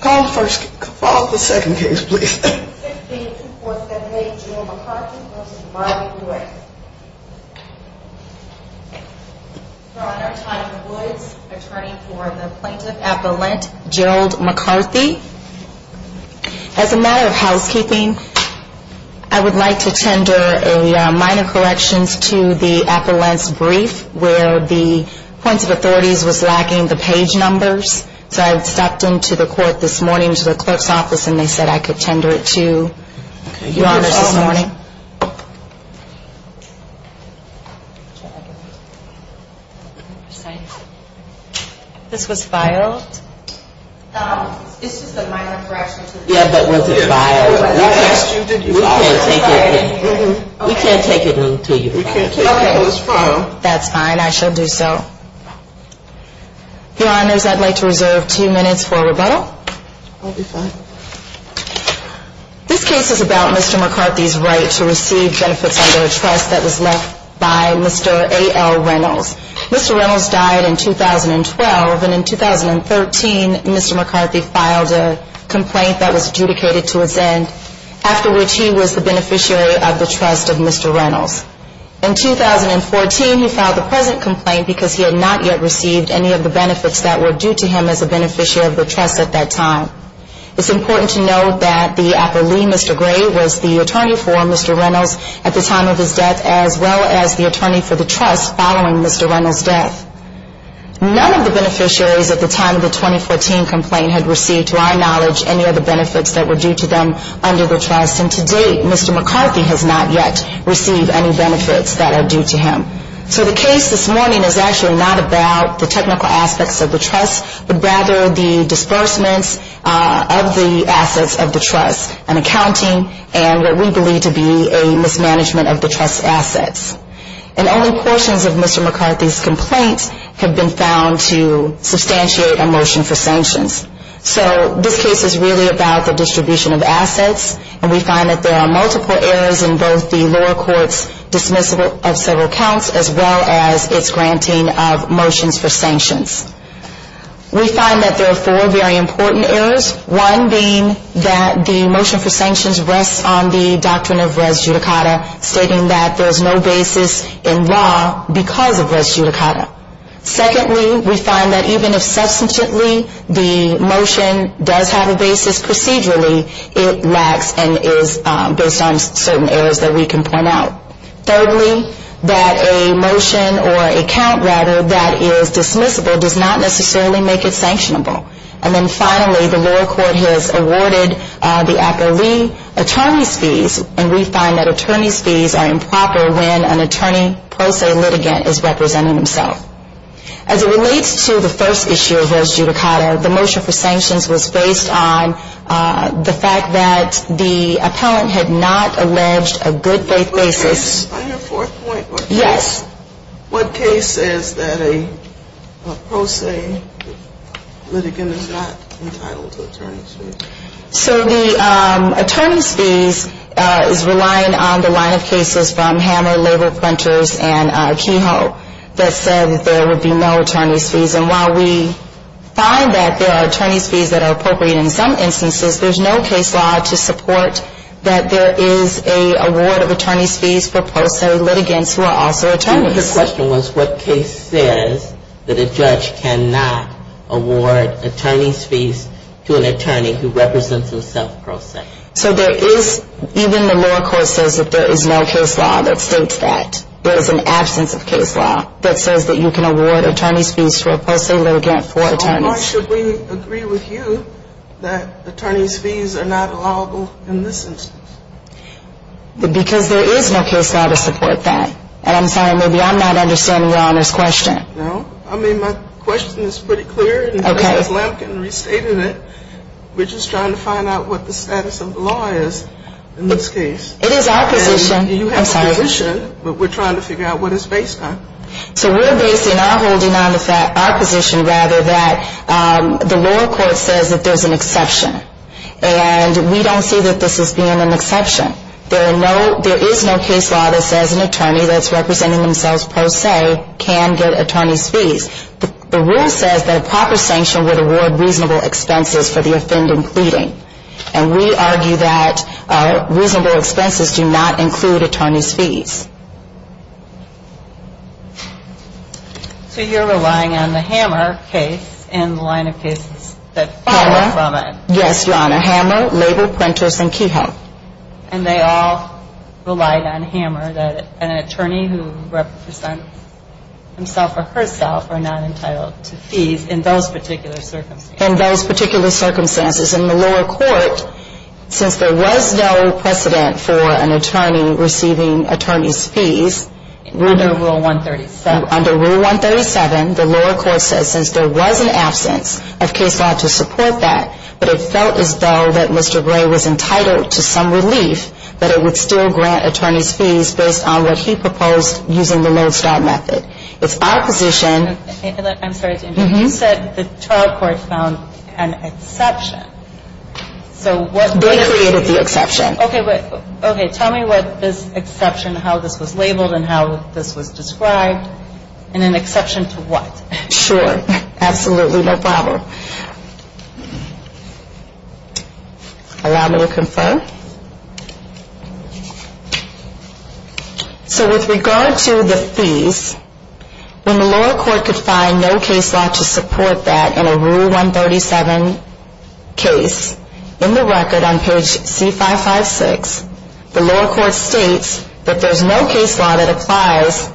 Call the first case. Call the second case, please. 162478 Gerald McCarthy v. Marley Woods We're on our time for Woods. Attorney for the Plaintiff Appellant, Gerald McCarthy. As a matter of housekeeping, I would like to tender a minor corrections to the Appellant's brief where the point of authorities was lacking the page numbers, so I had stopped into the court this morning to the clerk's office and they said I could tender it to Your Honors this morning. This was filed. This is a minor correction. Yes, but was it filed? We can't take it until you file it. Okay, that's fine. I shall do so. Your Honors, I'd like to reserve two minutes for rebuttal. I'll be fine. This case is about Mr. McCarthy's right to receive benefits under a trust that was left by Mr. A.L. Reynolds. Mr. Reynolds died in 2012 and in 2013, Mr. McCarthy filed a complaint that was adjudicated to his end, after which he was the beneficiary of the trust. In 2014, he filed the present complaint because he had not yet received any of the benefits that were due to him as a beneficiary of the trust at that time. It's important to note that the Appellee, Mr. Gray, was the attorney for Mr. Reynolds at the time of his death, as well as the attorney for the trust following Mr. Reynolds' death. None of the beneficiaries at the time of the 2014 complaint had received, to our knowledge, any of the benefits that were due to them under the trust, and to date, Mr. McCarthy has not yet received any benefits that are due to him. So the case this morning is actually not about the technical aspects of the trust, but rather the disbursements of the assets of the trust and accounting and what we believe to be a mismanagement of the trust's assets. And only portions of Mr. McCarthy's complaint have been found to substantiate a motion for sanctions. So this case is really about the distribution of assets, and we find that there are multiple errors in both the lower court's dismissal of several counts, as well as its granting of motions for sanctions. We find that there are four very important errors, one being that the motion for sanctions rests on the doctrine of res judicata, stating that there is no basis in law because of res judicata. Secondly, we find that even if substantively the motion does have a basis procedurally, it lacks and is based on certain errors that we can point out. Thirdly, that a motion, or a count rather, that is dismissible does not necessarily make it sanctionable. And then finally, the lower court has awarded the appellee attorney's fees, and we find that attorney's fees are improper when an attorney pro se litigant is representing himself. As it relates to the first issue of res judicata, the motion for sanctions was based on the fact that the appellant had not alleged a good faith basis. Yes. What case says that a pro se litigant is not entitled to attorney's fees? So the attorney's fees is relying on the line of cases from Hammer Labor Printers and Kehoe that said that there would be no attorney's fees, and while we find that there are attorney's fees that are appropriate in some instances, there's no case law to support that there is an award of attorney's fees for pro se litigants who are also attorneys. The question was what case says that a judge cannot award attorney's fees to an attorney who represents himself pro se. So there is, even the lower court says that there is no case law that states that. There is an absence of case law that says that you can not award attorney's fees to an attorney who represents himself pro se. There is no case law to support that. And I'm sorry, maybe I'm not understanding Your Honor's question. No. I mean, my question is pretty clear. Okay. We're just trying to find out what the status of the law is in this case. It is our position. I'm sorry. We should, but we're trying to figure out what it's based on. So we're basing our position rather that the lower court says that there's an exception. And we don't see that this is being an exception. There is no case law that says an attorney that's representing themselves pro se can get attorney's fees. The rule says that a proper sanction would award reasonable expenses for the offending pleading. And we argue that reasonable expenses do not include attorney's fees. So you're relying on the Hammer case and the line of cases that fall from it. Yes, Your Honor. Hammer, Label, Prentice, and Kehoe. And they all relied on Hammer that an attorney who represents himself or herself are not entitled to fees in those particular circumstances. In those particular circumstances. In the lower court, since there was no precedent for an attorney receiving attorney's fees. Under Rule 137. Under Rule 137, the lower court says since there was an absence of case law to support that, but it felt as though that Mr. Gray was entitled to some relief, that it would still grant attorney's fees based on what he proposed using the Lone Star Method. It's our position. I'm sorry. You said the trial court found an exception. They created the exception. Tell me what this exception, how this was labeled, and how this was described. And an exception to what? Sure. Absolutely. No problem. Allow me to confirm. So with regard to the fees, when the lower court could find no case law to support that in a Rule 137 case, in the record on page C556, the lower court states that there's no case law that applies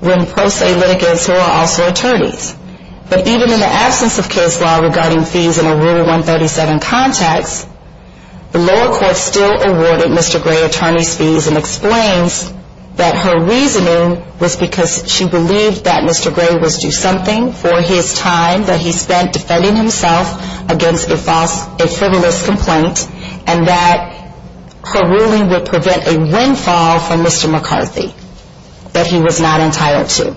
when pro se litigants who are also attorneys. But even in the absence of case law regarding fees in a Rule 137 context, the lower court still awarded Mr. Gray attorney's fees and explains that her reasoning was because she believed that Mr. Gray was due something for his time that he spent defending himself against a frivolous complaint and that her ruling would prevent a windfall for Mr. McCarthy that he was not entitled to.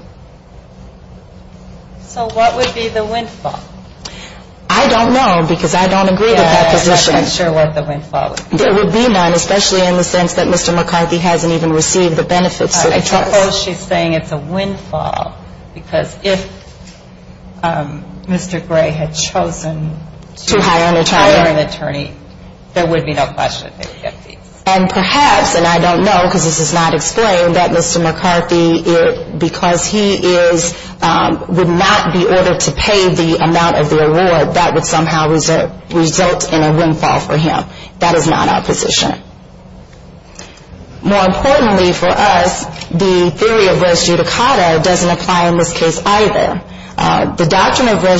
So what would be the windfall? I don't know because I don't agree with that position. I'm not sure what the windfall would be. There would be none, especially in the sense that Mr. McCarthy hasn't even received the benefits that I trust. I suppose she's saying it's a windfall because if Mr. Gray had chosen to hire an attorney, there would be no question that he would get fees. And perhaps, and I don't know because this is not explained, that Mr. McCarthy, because he would not be ordered to pay the amount of the award, that would somehow result in a windfall for him. That is not our position. More importantly for us, the doctrine of res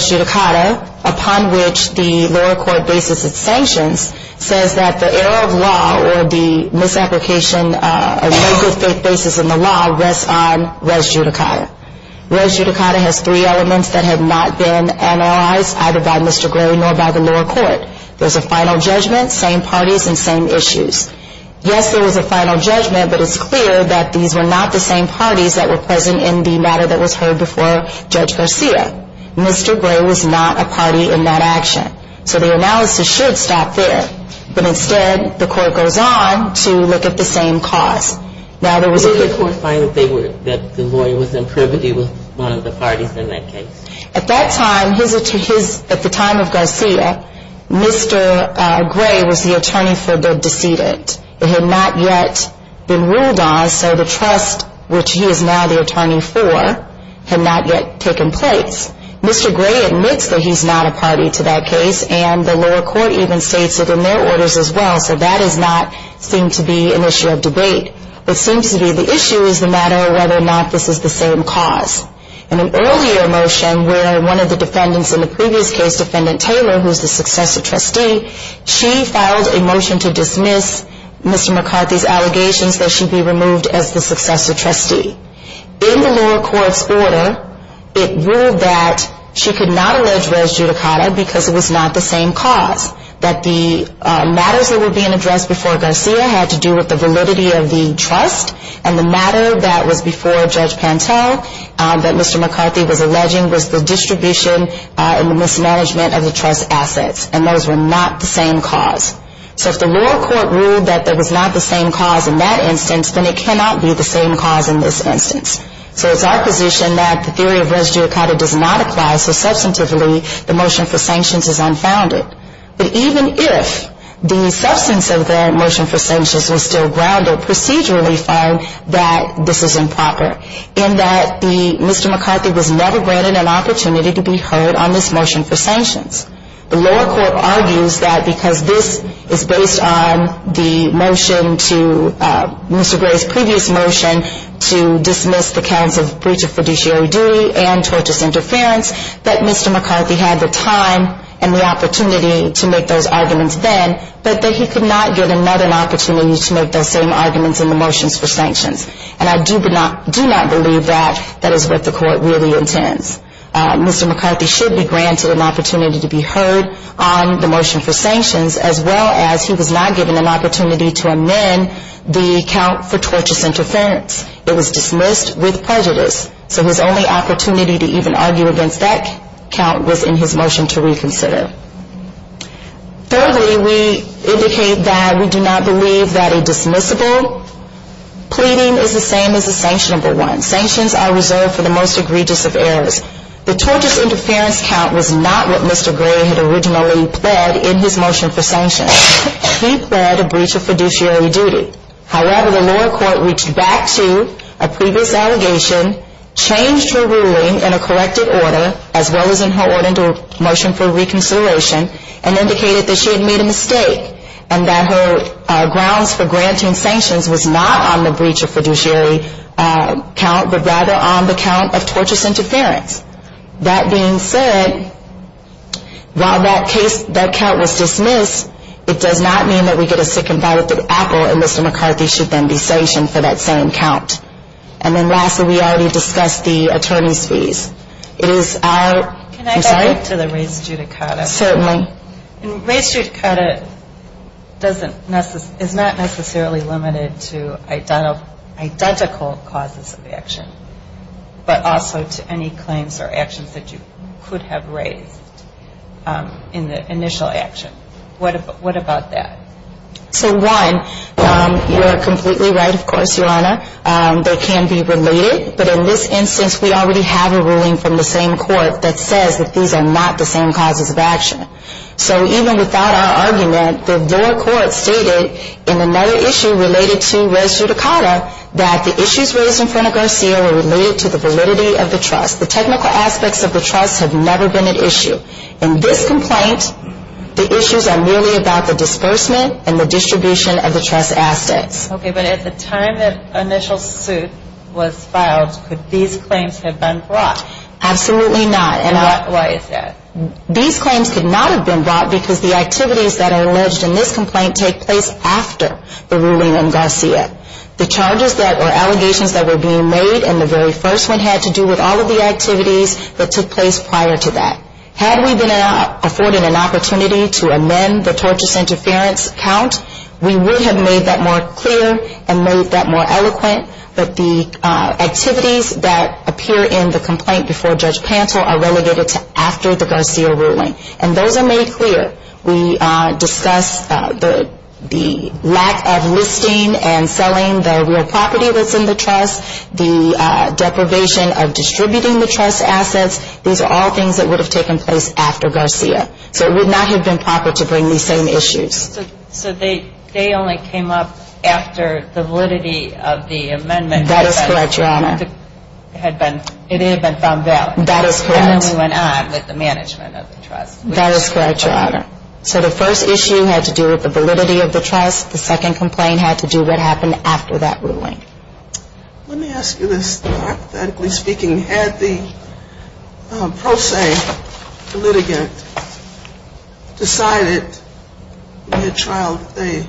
judicata upon which the lower court bases its sanctions says that the error of law or the misapplication of no good faith basis in the law rests on res judicata. Res judicata has three elements that have not been analyzed either by Mr. Gray nor by the lower court. There's a final judgment, same parties and same issues. Yes, there was a final judgment, but it's clear that these were not the same arguments that were heard before Judge Garcia. Mr. Gray was not a party in that action. So the analysis should stop there. But instead the court goes on to look at the same cause. Did the court find that the lawyer was in privity with one of the parties in that case? At that time, at the time of Garcia, Mr. Gray was the attorney for the decedent. It had not yet been ruled on, so the trust which he is now the attorney for had not yet taken place. Mr. Gray admits that he's not a party to that case and the lower court even states it in their orders as well, so that does not seem to be an issue of debate. What seems to be the issue is the matter of whether or not this is the same cause. In an earlier motion where one of the defendants in the previous case, Defendant Taylor, who's the successor trustee, she filed a motion to dismiss Mr. McCarthy's allegations that he should be removed as the successor trustee. In the lower court's order, it ruled that she could not allege res judicata because it was not the same cause, that the matters that were being addressed before Garcia had to do with the validity of the trust and the matter that was before Judge Pantel that Mr. McCarthy was alleging was the distribution and the mismanagement of the trust assets and those were not the same cause. So if the lower court ruled that it was not the same cause in that instance, then it cannot be the same cause in this instance. So it's our position that the theory of res judicata does not apply so substantively the motion for sanctions is unfounded. But even if the substance of the motion for sanctions was still grounded, procedurally we find that this is improper in that Mr. McCarthy was never granted an opportunity to be heard on this motion for sanctions. The lower court argues that because this is based on the motion to, Mr. Gray's previous motion to dismiss the counts of breach of fiduciary duty and tortious interference, that Mr. McCarthy had the time and the opportunity to make those arguments then, but that he could not get another opportunity to make those same arguments in the motions for sanctions. And I do not believe that that is what the court really intends. Mr. McCarthy should be granted an opportunity to be heard on the motion for sanctions as well as he was not given an opportunity to amend the count for tortious interference. It was dismissed with prejudice. So his only opportunity to even argue against that count was in his motion to reconsider. Thirdly, we indicate that we do not believe that a dismissible pleading is the same as a sanctionable one. Sanctions are reserved for the most egregious of errors. The tortious interference count was not what Mr. Gray had originally pled in his motion for sanctions. He pled a breach of fiduciary duty. However, the lower court reached back to a previous allegation, changed her ruling in a corrected order as well as in her order to motion for reconsideration and indicated that she had made a mistake and that her grounds for granting sanctions was not on the breach of fiduciary count but rather on the count of tortious interference. That being said, while that count was dismissed, it does not mean that we get a second ballot at Apple and Mr. McCarthy should then be sanctioned for that same count. And then lastly, we already discussed the attorney's fees. Can I back up to the raised judicata? Certainly. Raised judicata is not necessarily limited to identical causes of action but also to any claims or actions that you could have raised in the initial action. What about that? So one, you are completely right of course, Your Honor. They can be related, but in this instance we already have a ruling from the same court that says that these are not the same causes of action. So even without our argument, the lower court stated in another issue related to raised judicata that the issues raised in front of Garcia were related to the validity of the trust. The technical aspects of the trust have never been at issue. In this complaint the issues are merely about the disbursement and the distribution of the trust assets. Okay, but at the time that initial suit was filed, could these claims have been brought? Absolutely not. Why is that? These claims could not have been brought because the activities that were being made in the very first one had to do with all of the activities that took place prior to that. Had we been afforded an opportunity to amend the tortious interference count, we would have made that more clear and made that more eloquent, but the activities that appear in the complaint before Judge Pantel are relegated to after the Garcia ruling. And those are made clear. We discuss the lack of listing and selling the real property that's in the trust, the deprivation of distributing the trust assets. These are all things that would have taken place after Garcia. So it would not have been proper to bring these same issues. So they only came up after the validity of the amendment? That is correct, Your Honor. It had been found valid. That is correct. And then we went on with the management of the trust. That is correct, Your Honor. So the first issue had to do with the validity of the trust. The second complaint had to do with what happened after that ruling. Let me ask you this. Authentically speaking, had the pro se litigant decided in the trial that they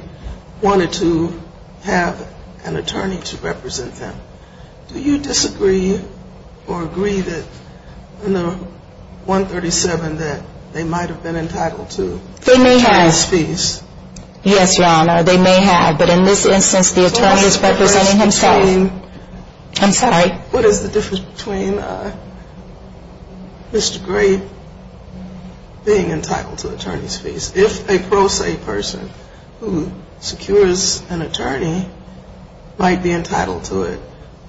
wanted to have an attorney to represent them, do you disagree or agree that in the 137 that they might have been entitled to attorney's fees? Yes, Your Honor, they may have. But in this instance, the attorney is representing himself. I'm sorry? What is the difference between Mr. Grape being entitled to attorney's fees? If a pro se person who secures an attorney might be entitled to it,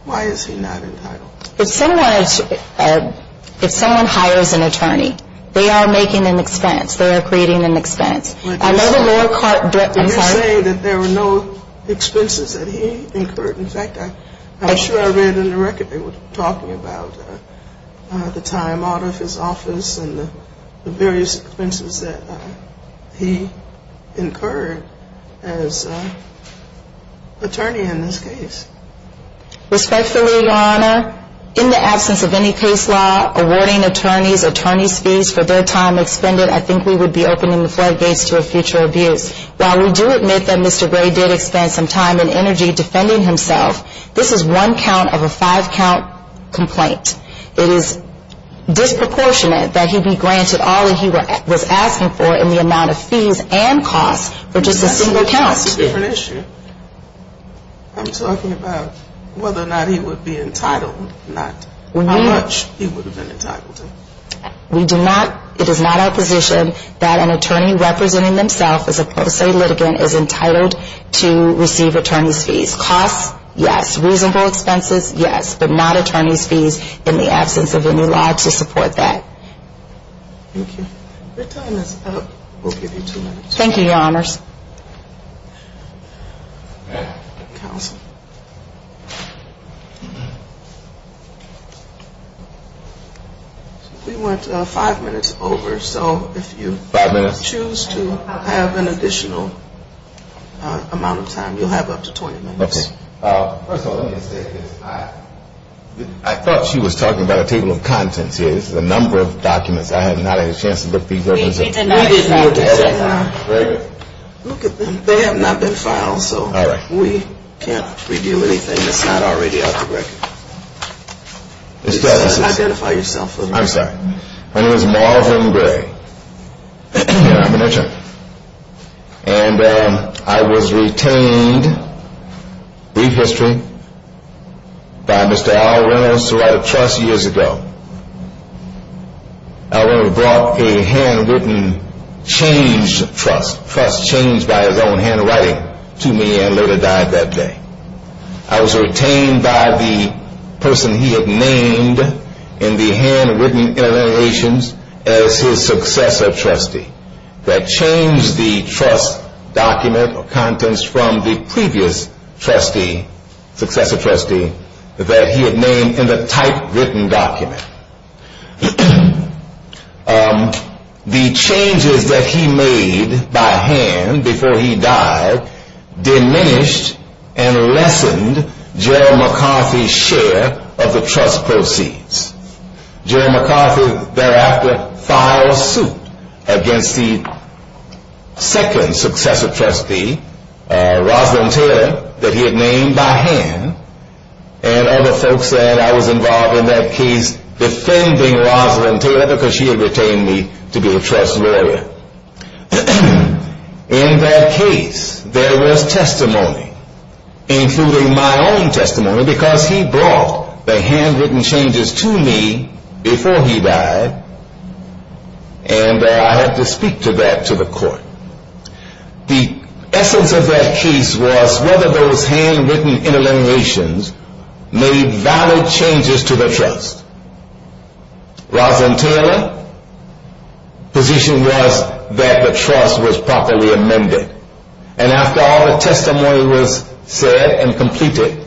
why is he not entitled? If someone hires an attorney, they are making an expense. They are creating an expense. Did you say that there were no expenses that he incurred? In fact, I'm sure I read in the record they were talking about the time out of his office and the various expenses that he incurred as attorney in this case. Respectfully, Your Honor, in the absence of any case law, awarding attorneys attorney's fees for their time expended, I think we would be opening the floodgates to a future abuse. While we do admit that Mr. Grape did expend some time and energy defending himself, this is one count of a five count complaint. It is disproportionate that he be granted all that he was asking for in the amount of fees and costs for just a single count. That's a different issue. I'm talking about whether or not he would be entitled or not. How much he would have been entitled to. We do not, it is not our position that an attorney representing themselves as a post-state litigant is entitled to receive attorney's fees. Costs, yes. Reasonable expenses, yes. But not attorney's fees in the absence of any law to support that. Thank you. Your time is up. We'll give you two minutes. Thank you, Your Honors. Counsel. We want five minutes over, so if you choose to have an additional amount of time, you'll have up to 20 minutes. First of all, let me just say this. I thought she was talking about a table of contents here. This is a number of documents. I had not had a chance to look through those. They have not been filed, so we can't reveal anything that's not already on the record. I'm sorry. My name is Marvin Gray. And I was retained brief history by Mr. Al Reynolds who I trust years ago. Al Reynolds brought a handwritten changed trust, trust changed by his own handwriting to me and later died that day. I was retained by the person he had named in the handwritten interventions as his successor trustee that changed the trust document or contents from the previous trustee, successor trustee that he had named in the typewritten document. The changes that he made by hand before he died diminished and lessened Gerald McCarthy's share of the trust proceeds. Gerald McCarthy thereafter filed suit against the second successor trustee Rosalind Taylor that he had named by hand and other folks that I was involved in that case defending Rosalind Taylor because she had retained me to be a trust lawyer. In that case, there was testimony, including my own testimony because he brought the handwritten changes to me before he died and I had to speak to that to the court. The essence of that case was whether those handwritten interlinearations made valid changes to the trust. Rosalind Taylor position was that the trust was properly amended and after all the testimony was said and completed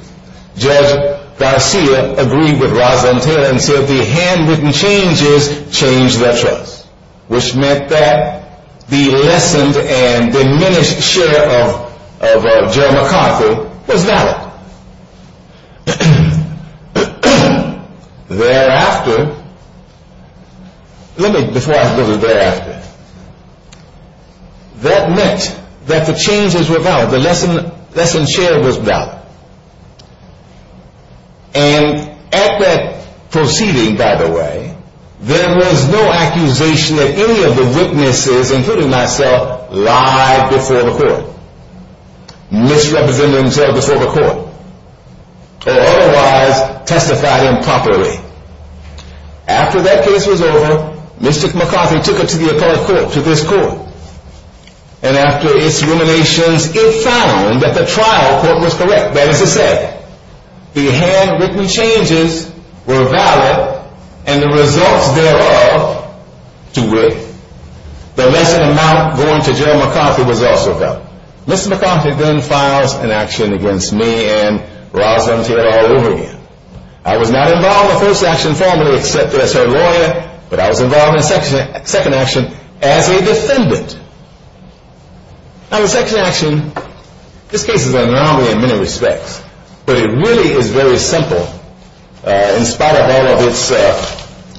Judge Garcia agreed with Rosalind Taylor and said the handwritten changes changed the trust, which meant that the lessened and diminished share of Gerald McCarthy was valid. Thereafter let me, before I go to thereafter that meant that the changes were valid, the lessened share was valid and at that proceeding, by the way, there was no accusation that any of the witnesses, including myself lied before the court, misrepresented himself before the court, or otherwise testified improperly. After that case was over, Mr. McCarthy took it to the appellate court, to this court, and after its ruminations, it found that the trial court was correct. That is to say, the handwritten changes were valid and the results thereof to which the lesser amount going to Gerald McCarthy was also valid. Mr. McCarthy then files an action against me and Rosalind Taylor all over again. I was not involved in the first action formally except as her lawyer, but I was involved in the second action as a defendant. Now the second action this case is an anomaly in many respects, but it really is very simple in spite of all of its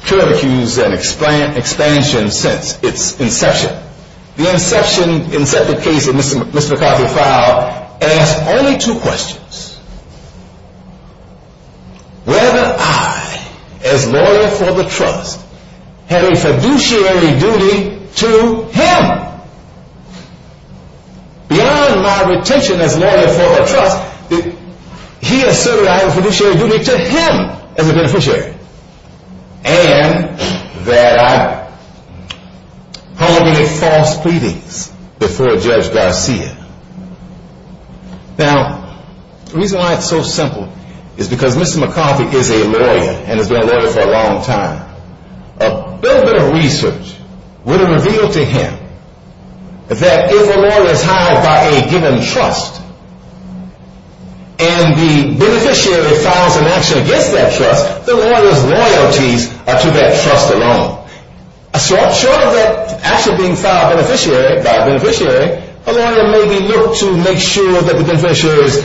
curlicues and expansion since its inception. The inception case that Mr. McCarthy filed asked only two questions. Whether I, as lawyer for the trust, had a fiduciary duty to him. Beyond my retention as lawyer for the trust, he asserted I had a fiduciary duty to him as a beneficiary. And that I pulled many false pleadings before Judge Garcia. Now, the reason why it's so simple is because Mr. McCarthy is a lawyer and has been a lawyer for a long time. A little bit of research would have revealed to him that if a lawyer is hired by a given trust and the beneficiary files an action against that trust, the lawyer's loyalties are to that trust alone. Short of that action being filed by a beneficiary, a lawyer may be looked to make sure that the beneficiary's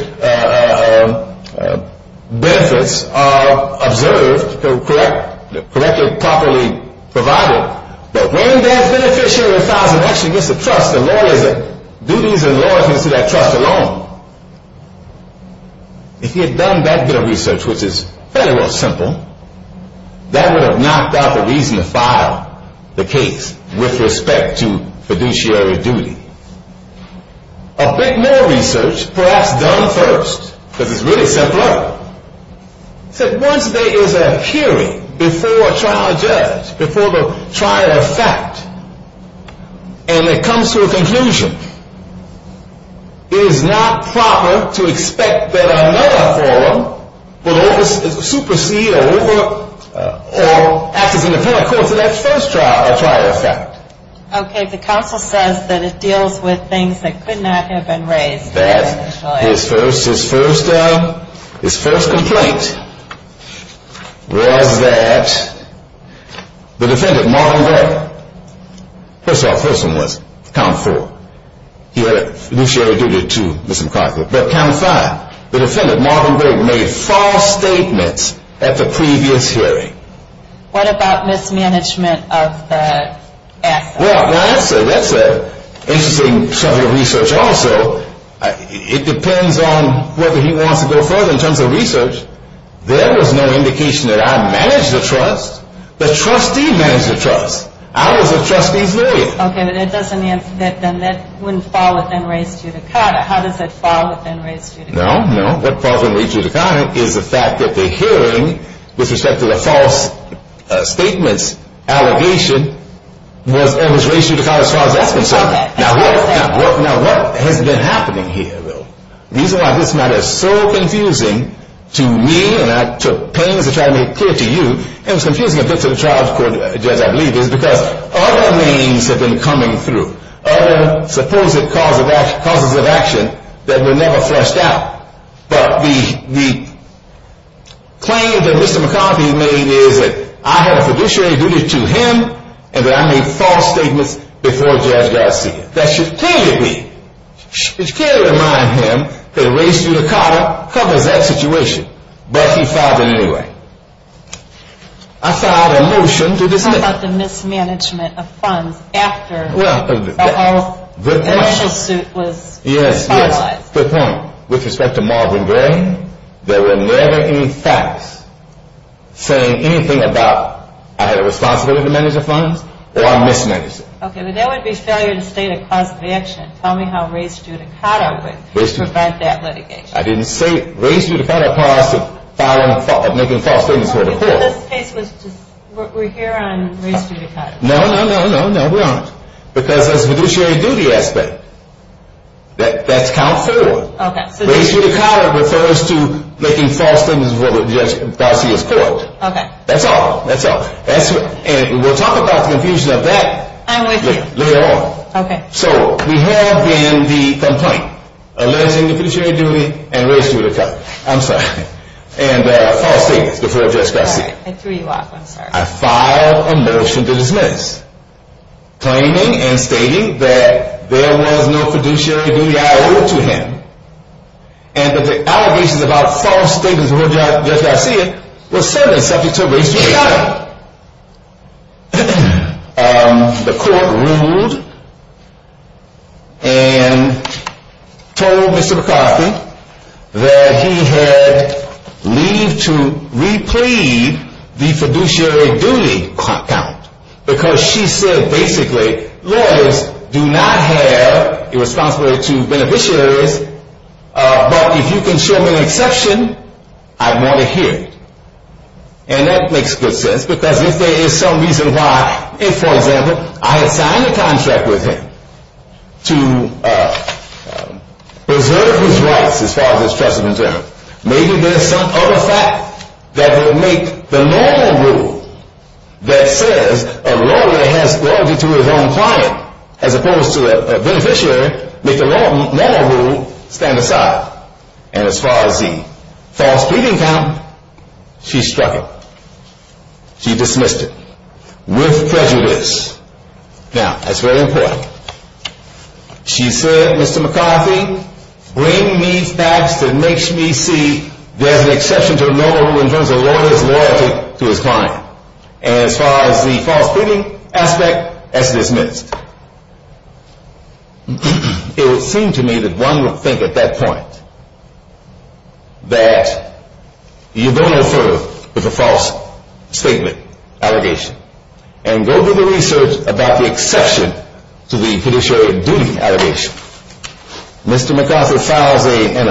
benefits are observed and correctly and properly provided. But when that beneficiary files an action against the trust, the lawyer's duties and loyalties are to that trust alone. If he had done that bit of research, which is fairly well simple, that would have knocked out the reason to file the case with respect to fiduciary duty. A bit more research, perhaps done first, because it's really simpler, said once there is a hearing before a trial judge, before the trial of fact, and it comes to a conclusion, it is not proper to expect that another forum will supersede or act as an independent court to that first trial of fact. Okay, the counsel says that it deals with things that could not have been raised by that lawyer. His first complaint was that the defendant, Marvin Vetter, first of all, first one was count four. He had fiduciary duty to Ms. McConklin, but count five, the defendant Marvin Vetter made false statements at the previous hearing. What about mismanagement of the asset? Well, that's an interesting subject of research also. It depends on whether he wants to go further in terms of research. There is no indication that I managed the trust. The trustee managed the trust. I was the trustee's lawyer. Okay, but that doesn't mean that that wouldn't fall within race judicata. How does it fall within race judicata? No, no, what falls within race judicata is the fact that the hearing with respect to the false statements allegation was race judicata as far as that's concerned. Now, what has been happening here, though? The reason why this matter is so confusing to me, and I took pains to try to make it clear to you, and it was confusing to the trial court judge, I believe, is because other means have been coming through, other supposed causes of action that were never fleshed out. But the claim that Mr. McConklin made is that I had fiduciary duty to him, and that I made false statements before Judge Garcia. That should clearly be, it should clearly remind him that race judicata covers that situation. But he filed it anyway. I filed a motion to dismiss. How about the mismanagement of funds after the whole initial suit was finalized? Yes, yes. Good point. With respect to Marvin Gray, there were never any facts saying anything about I had a responsibility to manage the funds, or I mismanaged it. Okay, but that would be failure to state a cause of action. Tell me how race judicata would prevent that litigation. I didn't say race judicata caused making false statements before the court. So this case was just, we're here on race judicata. No, no, no, no, no, we aren't. Because that's a fiduciary duty aspect. That's count forward. Race judicata refers to making false statements before Judge Garcia's court. Okay. That's all. That's all. And we'll talk about the confusion of that. I'm with you. Later on. Okay. So we have been the complaint alleging fiduciary duty and race judicata. I'm sorry. And false statements before Judge Garcia. I threw you off, I'm sorry. I filed a motion to dismiss, claiming and stating that there was no fiduciary duty I owed to him and that the allegations about false statements before Judge Garcia were certainly subject to race judicata. The court ruled and told Mr. McCarthy that he had leaved to replead the fiduciary duty count because she said basically lawyers do not have a responsibility to beneficiaries but if you can show me an exception, I want to hear it. And that makes good sense because if there is some reason why if for example I had signed a contract with him to preserve his rights as far as his trust is concerned maybe there is some other fact that would make the normal rule that says a lawyer has loyalty to his own client as opposed to a beneficiary make the normal rule stand aside. And as far as the false statement count, she struck it. She dismissed it with prejudice. Now, that's very important. She said Mr. McCarthy, bring me facts that makes me see there's an exception to a normal rule in terms of a lawyer's loyalty to his client. And as far as the false statement aspect, that's dismissed. It would seem to me that one would think at that point that you don't refer to the false statement allegation. And go do the research about the exception to the fiduciary duty allegation. Mr. McCarthy files an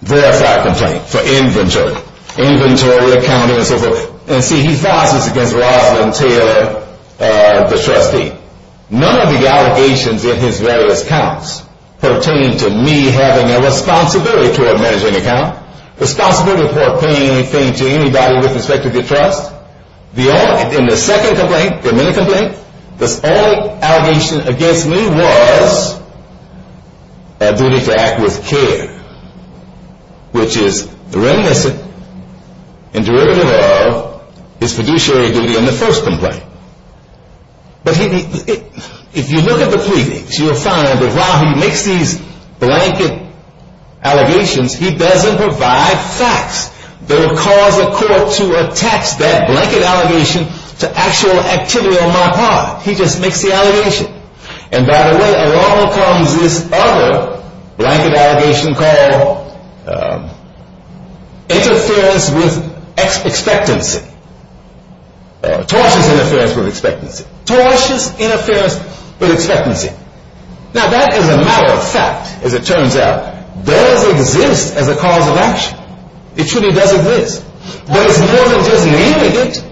verified complaint for inventory. Inventory accounting and so forth. And see he files this against Roslyn Taylor the trustee. None of the allegations in his various accounts pertain to me having a responsibility toward managing an account. Responsibility pertaining to anybody with respect to the trust. In the second complaint, the minute complaint, the only allegation against me was a duty to act with care. Which is reminiscent in derivative law is fiduciary duty in the first complaint. But if you look at the pleadings, you'll find that while he makes these blanket allegations he doesn't provide facts that will cause a court to attach that blanket allegation to actual activity on my part. He just makes the allegation. And by the way, along comes this other blanket allegation called interference with expectancy. Tortious interference with expectancy. Tortious interference with expectancy. Now that is a matter of fact as it turns out. Does exist as a cause of action. It truly does exist. But it's more than just naming it.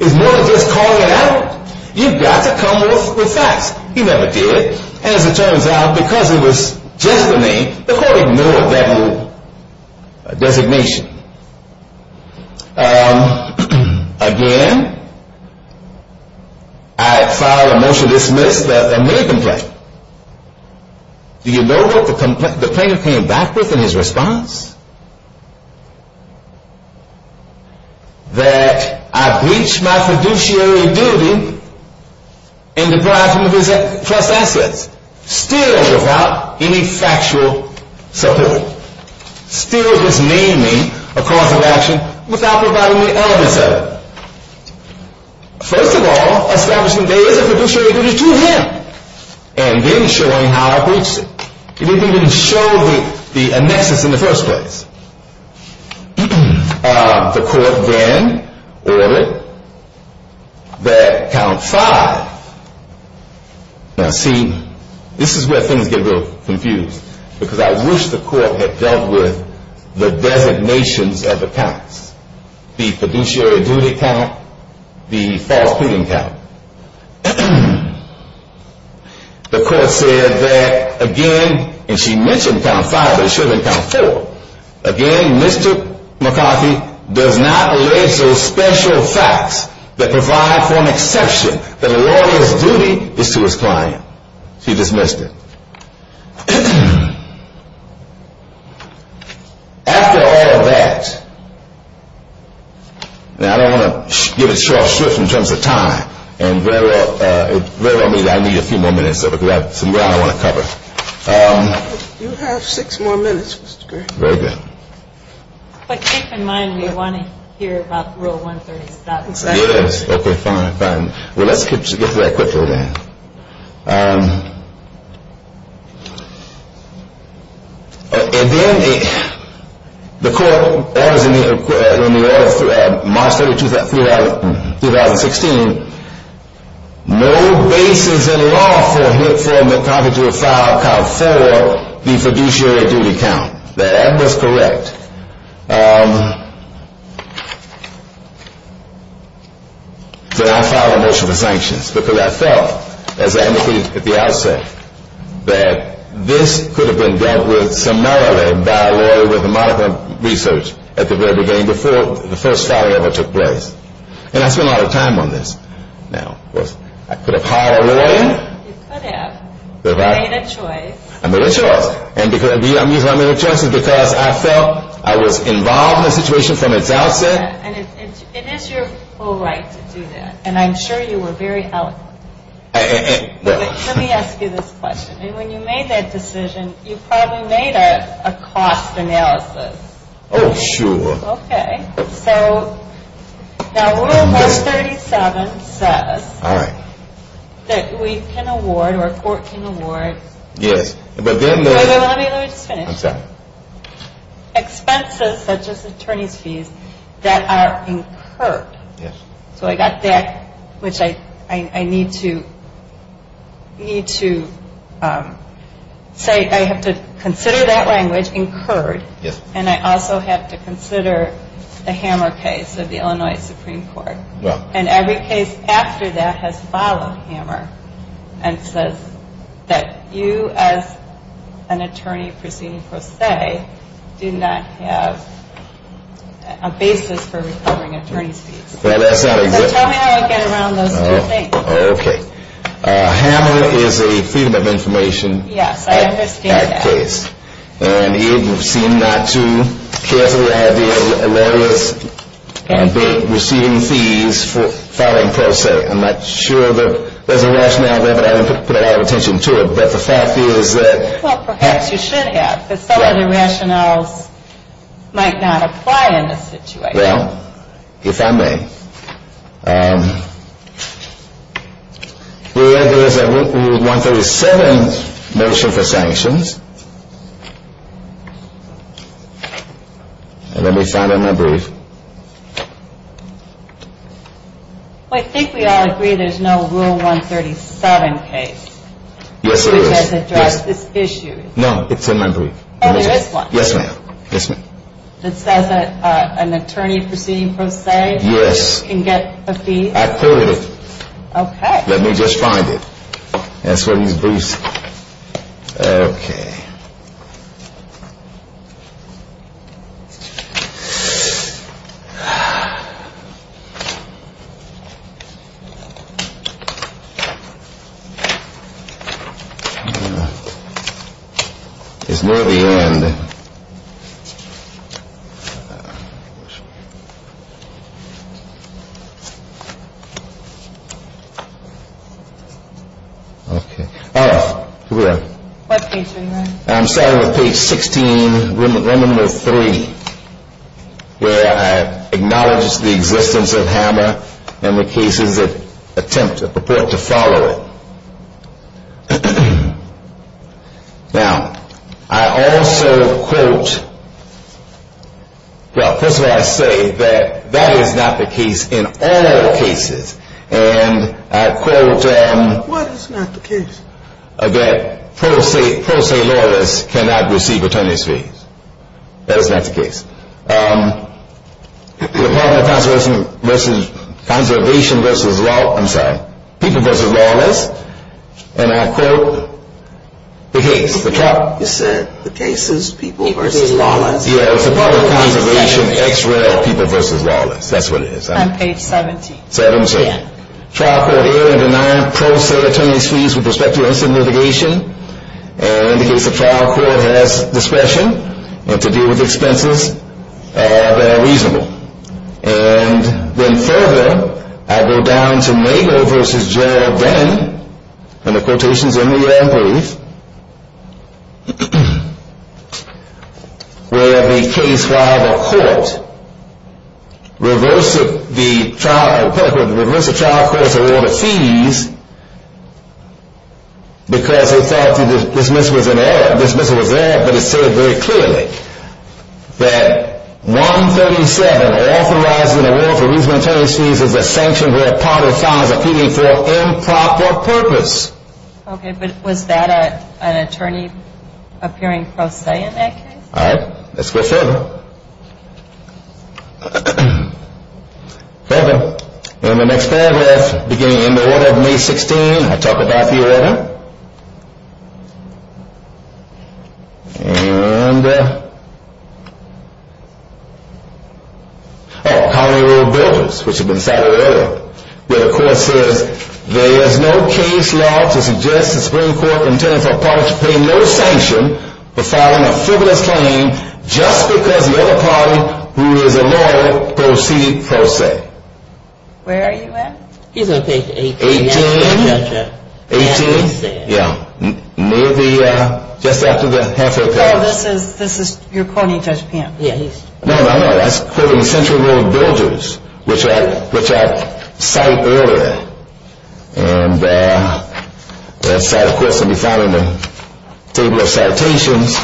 It's more than just calling it out. You've got to come up with facts. He never did. And as it turns out, because it was just the name the court ignored that designation. Again, I file a motion to dismiss the minute complaint. Do you know what the plaintiff came back with in his response? That I breached my fiduciary duty and deprived him of his trust assets. Still without any factual support. Still disnaming a cause of action without providing the elements of it. First of all, establishing days of fiduciary duty to him. And then showing how I breached it. He didn't even show the annexes in the first place. The court then ordered that count five. Now see, this is where things get a little confused. Because I wish the court had dealt with the designations of the counts. The fiduciary duty count, the false pleading count. The court said that again, and she mentioned count five but it should have been count four. Again, Mr. McCarthy does not allege those special facts that provide for an exception that a lawyer's duty is to his client. She dismissed it. After all of that, now I don't want to give it short shrift in terms of time and very well mean that I need a few more minutes of it because I have some ground I want to cover. You have six more minutes, Mr. Green. Very good. But keep in mind we want to hear about Rule 137. Yes, okay, fine, fine. Well, let's get to that quickly then. And then the court was in the order of March 30, 2016 no basis in law for Mr. McCarthy to have filed count four, the fiduciary duty count. That was correct. So I filed a motion for the sanctions because I felt as I indicated at the outset that this could have been dealt with summarily by a lawyer with a modicum of research at the very beginning before the first filing ever took place. And I spent a lot of time on this. I could have hired a lawyer. You could have. You made a choice. I made a choice. And the reason I made a choice is because I felt I was involved in the situation from its outset. And it is your full right to do that. And I'm sure you were very eloquent. Let me ask you this question. When you made that decision you probably made a cost analysis. Oh, sure. Okay, so now Rule 137 says that we can award or a court can award expenses such as attorney's fees that are incurred. So I got that which I need to say I have to consider that language incurred and I also have to consider the Hammer case of the Illinois Supreme Court. And every case after that has followed Hammer and says that you as an attorney proceeding per se do not have a basis for recovering attorney's fees. So tell me how I get around those two things. Okay. Hammer is a Freedom of Information Act case. Yes, I understand that. And you seem not to care for the idea of lawyers receiving fees for filing per se. I'm not sure that there's a rationale there but I haven't put a lot of attention to it. But the fact is that Well, perhaps you should have. But some of the rationales might not apply in this situation. Well, if I may. The answer is a Rule 137 motion for sanctions. Let me find it in my brief. I think we all agree there's no Rule 137 case. Yes, there is. It doesn't address this issue. No, it's in my brief. Yes, ma'am. It says that an attorney proceeding per se can get a fee. I quoted it. Okay. Let me just find it. Okay. It's near the end. Okay. Oh, here we are. What page are you on? I'm starting with page 16, Remember 3, where I acknowledge the existence of Hammer and the cases that attempt or purport to follow it. Now, I also quote Well, first of all, I say that that is not the case in all cases. And I quote that per se lawyers cannot receive attorney's fees. That is not the case. The Department of Conservation versus I'm sorry, People versus Lawless. And I quote the case. You said the case is People versus Lawless. Yeah, it's the Department of Conservation, X-Ray, or People versus Lawless. That's what it is. I'm on page 17. 17. Trial court error in denying pro se attorney's fees with respect to incident litigation indicates the trial court has discretion to deal with expenses that are reasonable. And then further, I go down to Nagle versus Gerald then, and the quotations are near and brief, where the case while the court reversed the trial court's order of fees because they thought the dismissal was an error, but it said very clearly that 137, authorizing a warrant for reasonable attorney's fees is a sanction where a part or sign is appealing for improper purpose. Okay, but was that an attorney appearing pro se in that case? Alright, let's go further. Further, in the next paragraph beginning in the order of May 16 I talk about the letter and oh, Colony Rule Buildings, which have been cited earlier, where the court says there is no case law to suggest the Supreme Court intended for a party to pay no sanction for filing a frivolous claim just because the other party who is a lawyer proceeded pro se. Where are you at? He's on page 18. 18? 18? Yeah. Near the, just after the half of the paragraph. Oh, this is, you're quoting Judge Pant. Yeah, he's. No, no, no, that's quoting Central Rule Buildings, which are cited earlier, and that's of course going to be found in the table of citations.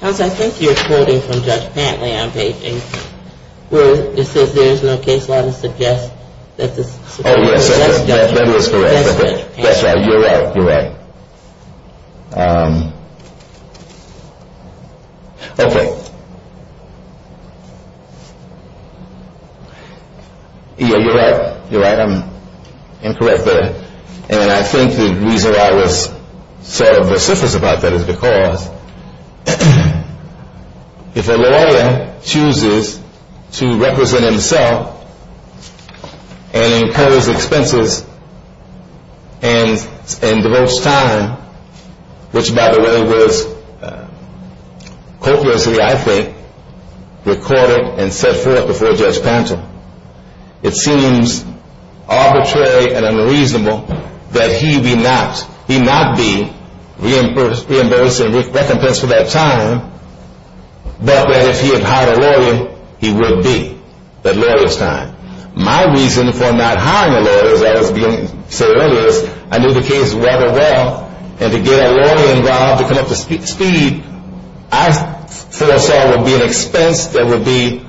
Counsel, I think you're quoting from Judge Pant where it says there is no case law to suggest that the Supreme Court. Oh, yes, that is correct. That's right, you're right, you're right. Okay. Yeah, you're right, you're right. Incorrect there, and I think the reason why I was sort of vociferous about that is because if a lawyer chooses to represent himself and impose expenses and devotes time, which by the way was copiously, I think, recorded and set forth before Judge Pant. It seems arbitrary and unreasonable that he be not, he not be reimbursed and recompensed for that time, but that if he had hired a lawyer, he would be. That lawyer's time. My reason for not hiring a lawyer, as I said earlier, is I knew the case rather well, and to get a lawyer involved to come up to speed I foresaw would be an expense that would be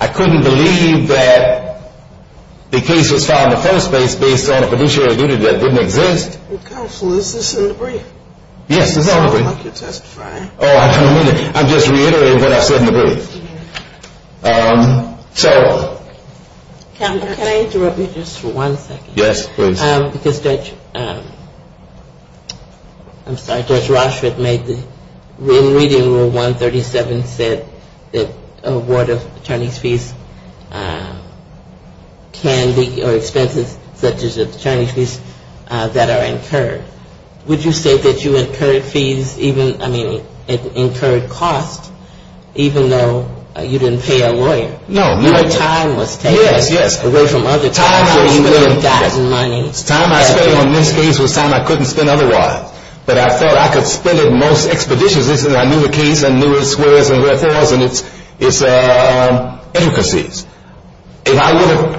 I couldn't believe that the case was filed in the first place based on a fiduciary duty that didn't exist. Counselor, is this in the brief? Yes, it's all in the brief. It sounds like you're testifying. Oh, I'm just reiterating what I said in the brief. So. Counselor, can I interrupt you just for one second? Yes, please. Because Judge, I'm sorry, Judge Rochford made the, in Reading Rule 137 said that award of attorney's fees can be, or expenses such as attorney's fees that are incurred. Would you say that you incurred fees even, I mean, incurred costs even though you didn't pay a lawyer? No. Your time was taken. Yes, yes. Away from other people. Time was spent on this case was time I couldn't spend otherwise. But I felt I could spend it most expeditiously because I knew the case and I knew its squares and wherefores and its intricacies. If I would have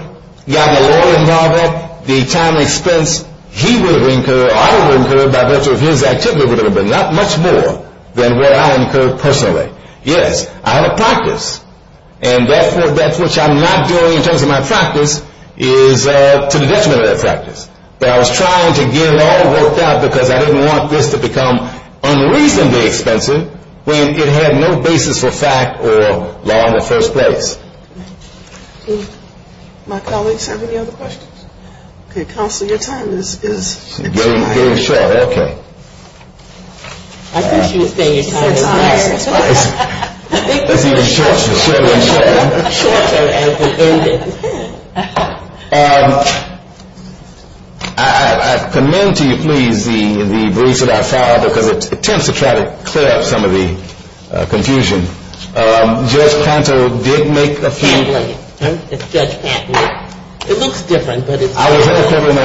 gotten a lawyer involved at the time expense he would have incurred or I would have incurred by virtue of his activity would have been not much more than what I incurred personally. Yes, I had a practice. And that's what I'm not doing in terms of my practice is to the detriment of that practice. But I was trying to get it all worked out because I didn't want this to become unreasonably expensive when it had no basis for fact or law in the first place. My colleagues have any other questions? Counselor, your time is getting short. Okay. I think she was saying your time is short. It's even shorter. I commend to you please the briefs that I filed because it tends to try to clear up some of the confusion. Judge Panto did make a few It looks different. I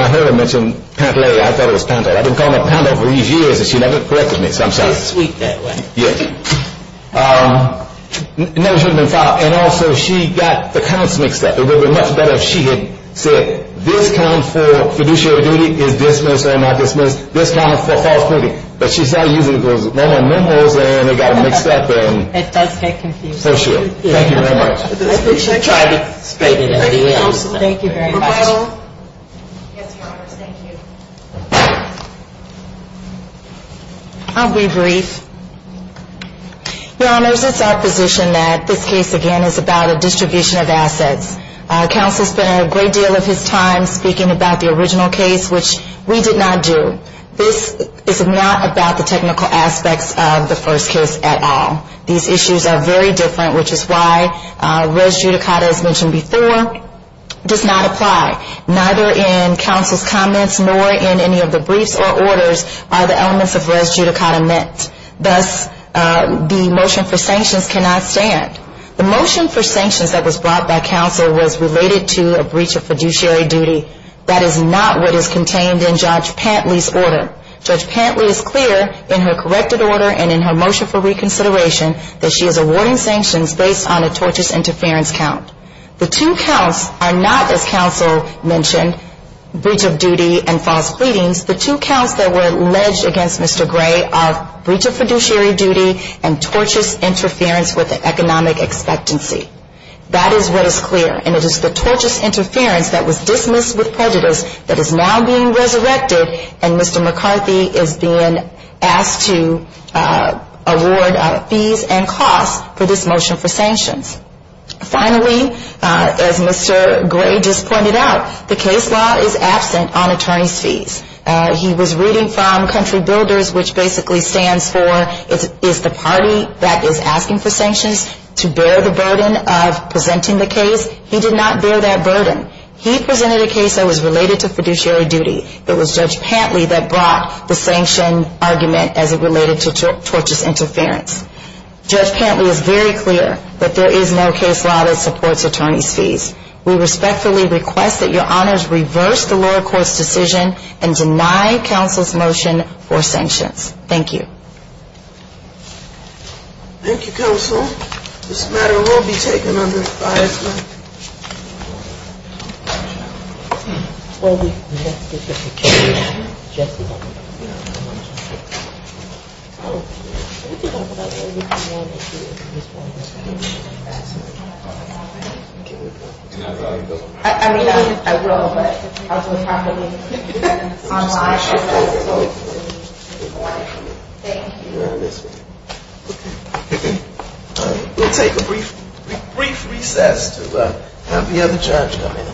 heard her mention Pantolea. I thought it was Pantolea. I've been calling her Pantolea for years and she never corrected me. She's sweet that way. And also she got the counts mixed up. It would have been much better if she had said this count for fiduciary duty is dismissed or not dismissed. This count is for false proofing. But she's not using those memo's and it got mixed up. It does get confusing. Thank you very much. Thank you very much. I'll be brief. Your honors, it's our position that this case again is about a distribution of assets. Counsel spent a great deal of his time speaking about the original case, which we did not do. This is not about the technical aspects of the first case at all. These issues are very different, which is why res judicata as mentioned before does not apply. Neither in counsel's comments nor in any of the briefs or orders are the elements of res judicata met. Thus the motion for sanctions cannot stand. The motion for sanctions that was brought by counsel was related to a breach of fiduciary duty. That is not what is contained in Judge Pantley's order. Judge Pantley is clear in her corrected order and in her motion for reconsideration that she is awarding sanctions based on a tortious interference count. The two counts are not, as counsel mentioned, breach of duty and false pleadings. The two counts that were alleged against Mr. Gray are breach of fiduciary duty and tortious interference with economic expectancy. That is what is clear, and it is the tortious interference that was dismissed with prejudice that is now being resurrected, and Mr. McCarthy is being asked to award fees and costs for this motion for sanctions. Finally, as Mr. Gray just pointed out, the case law is absent on attorney's fees. He was reading from Country Builders, which basically stands for is the party that is asking for sanctions to bear the burden of presenting the case. He did not bear that burden. He presented a case that was related to fiduciary duty. It was Judge Pantley that brought the sanction argument as it related to tortious interference. Judge Pantley is very clear that there is no case law that supports attorney's fees. We respectfully request that your honors reverse the lower court's decision and deny counsel's motion for sanctions. Thank you. Thank you, counsel. This matter will be taken under fire. Thank you. We'll take a brief recess to have the other judge come in.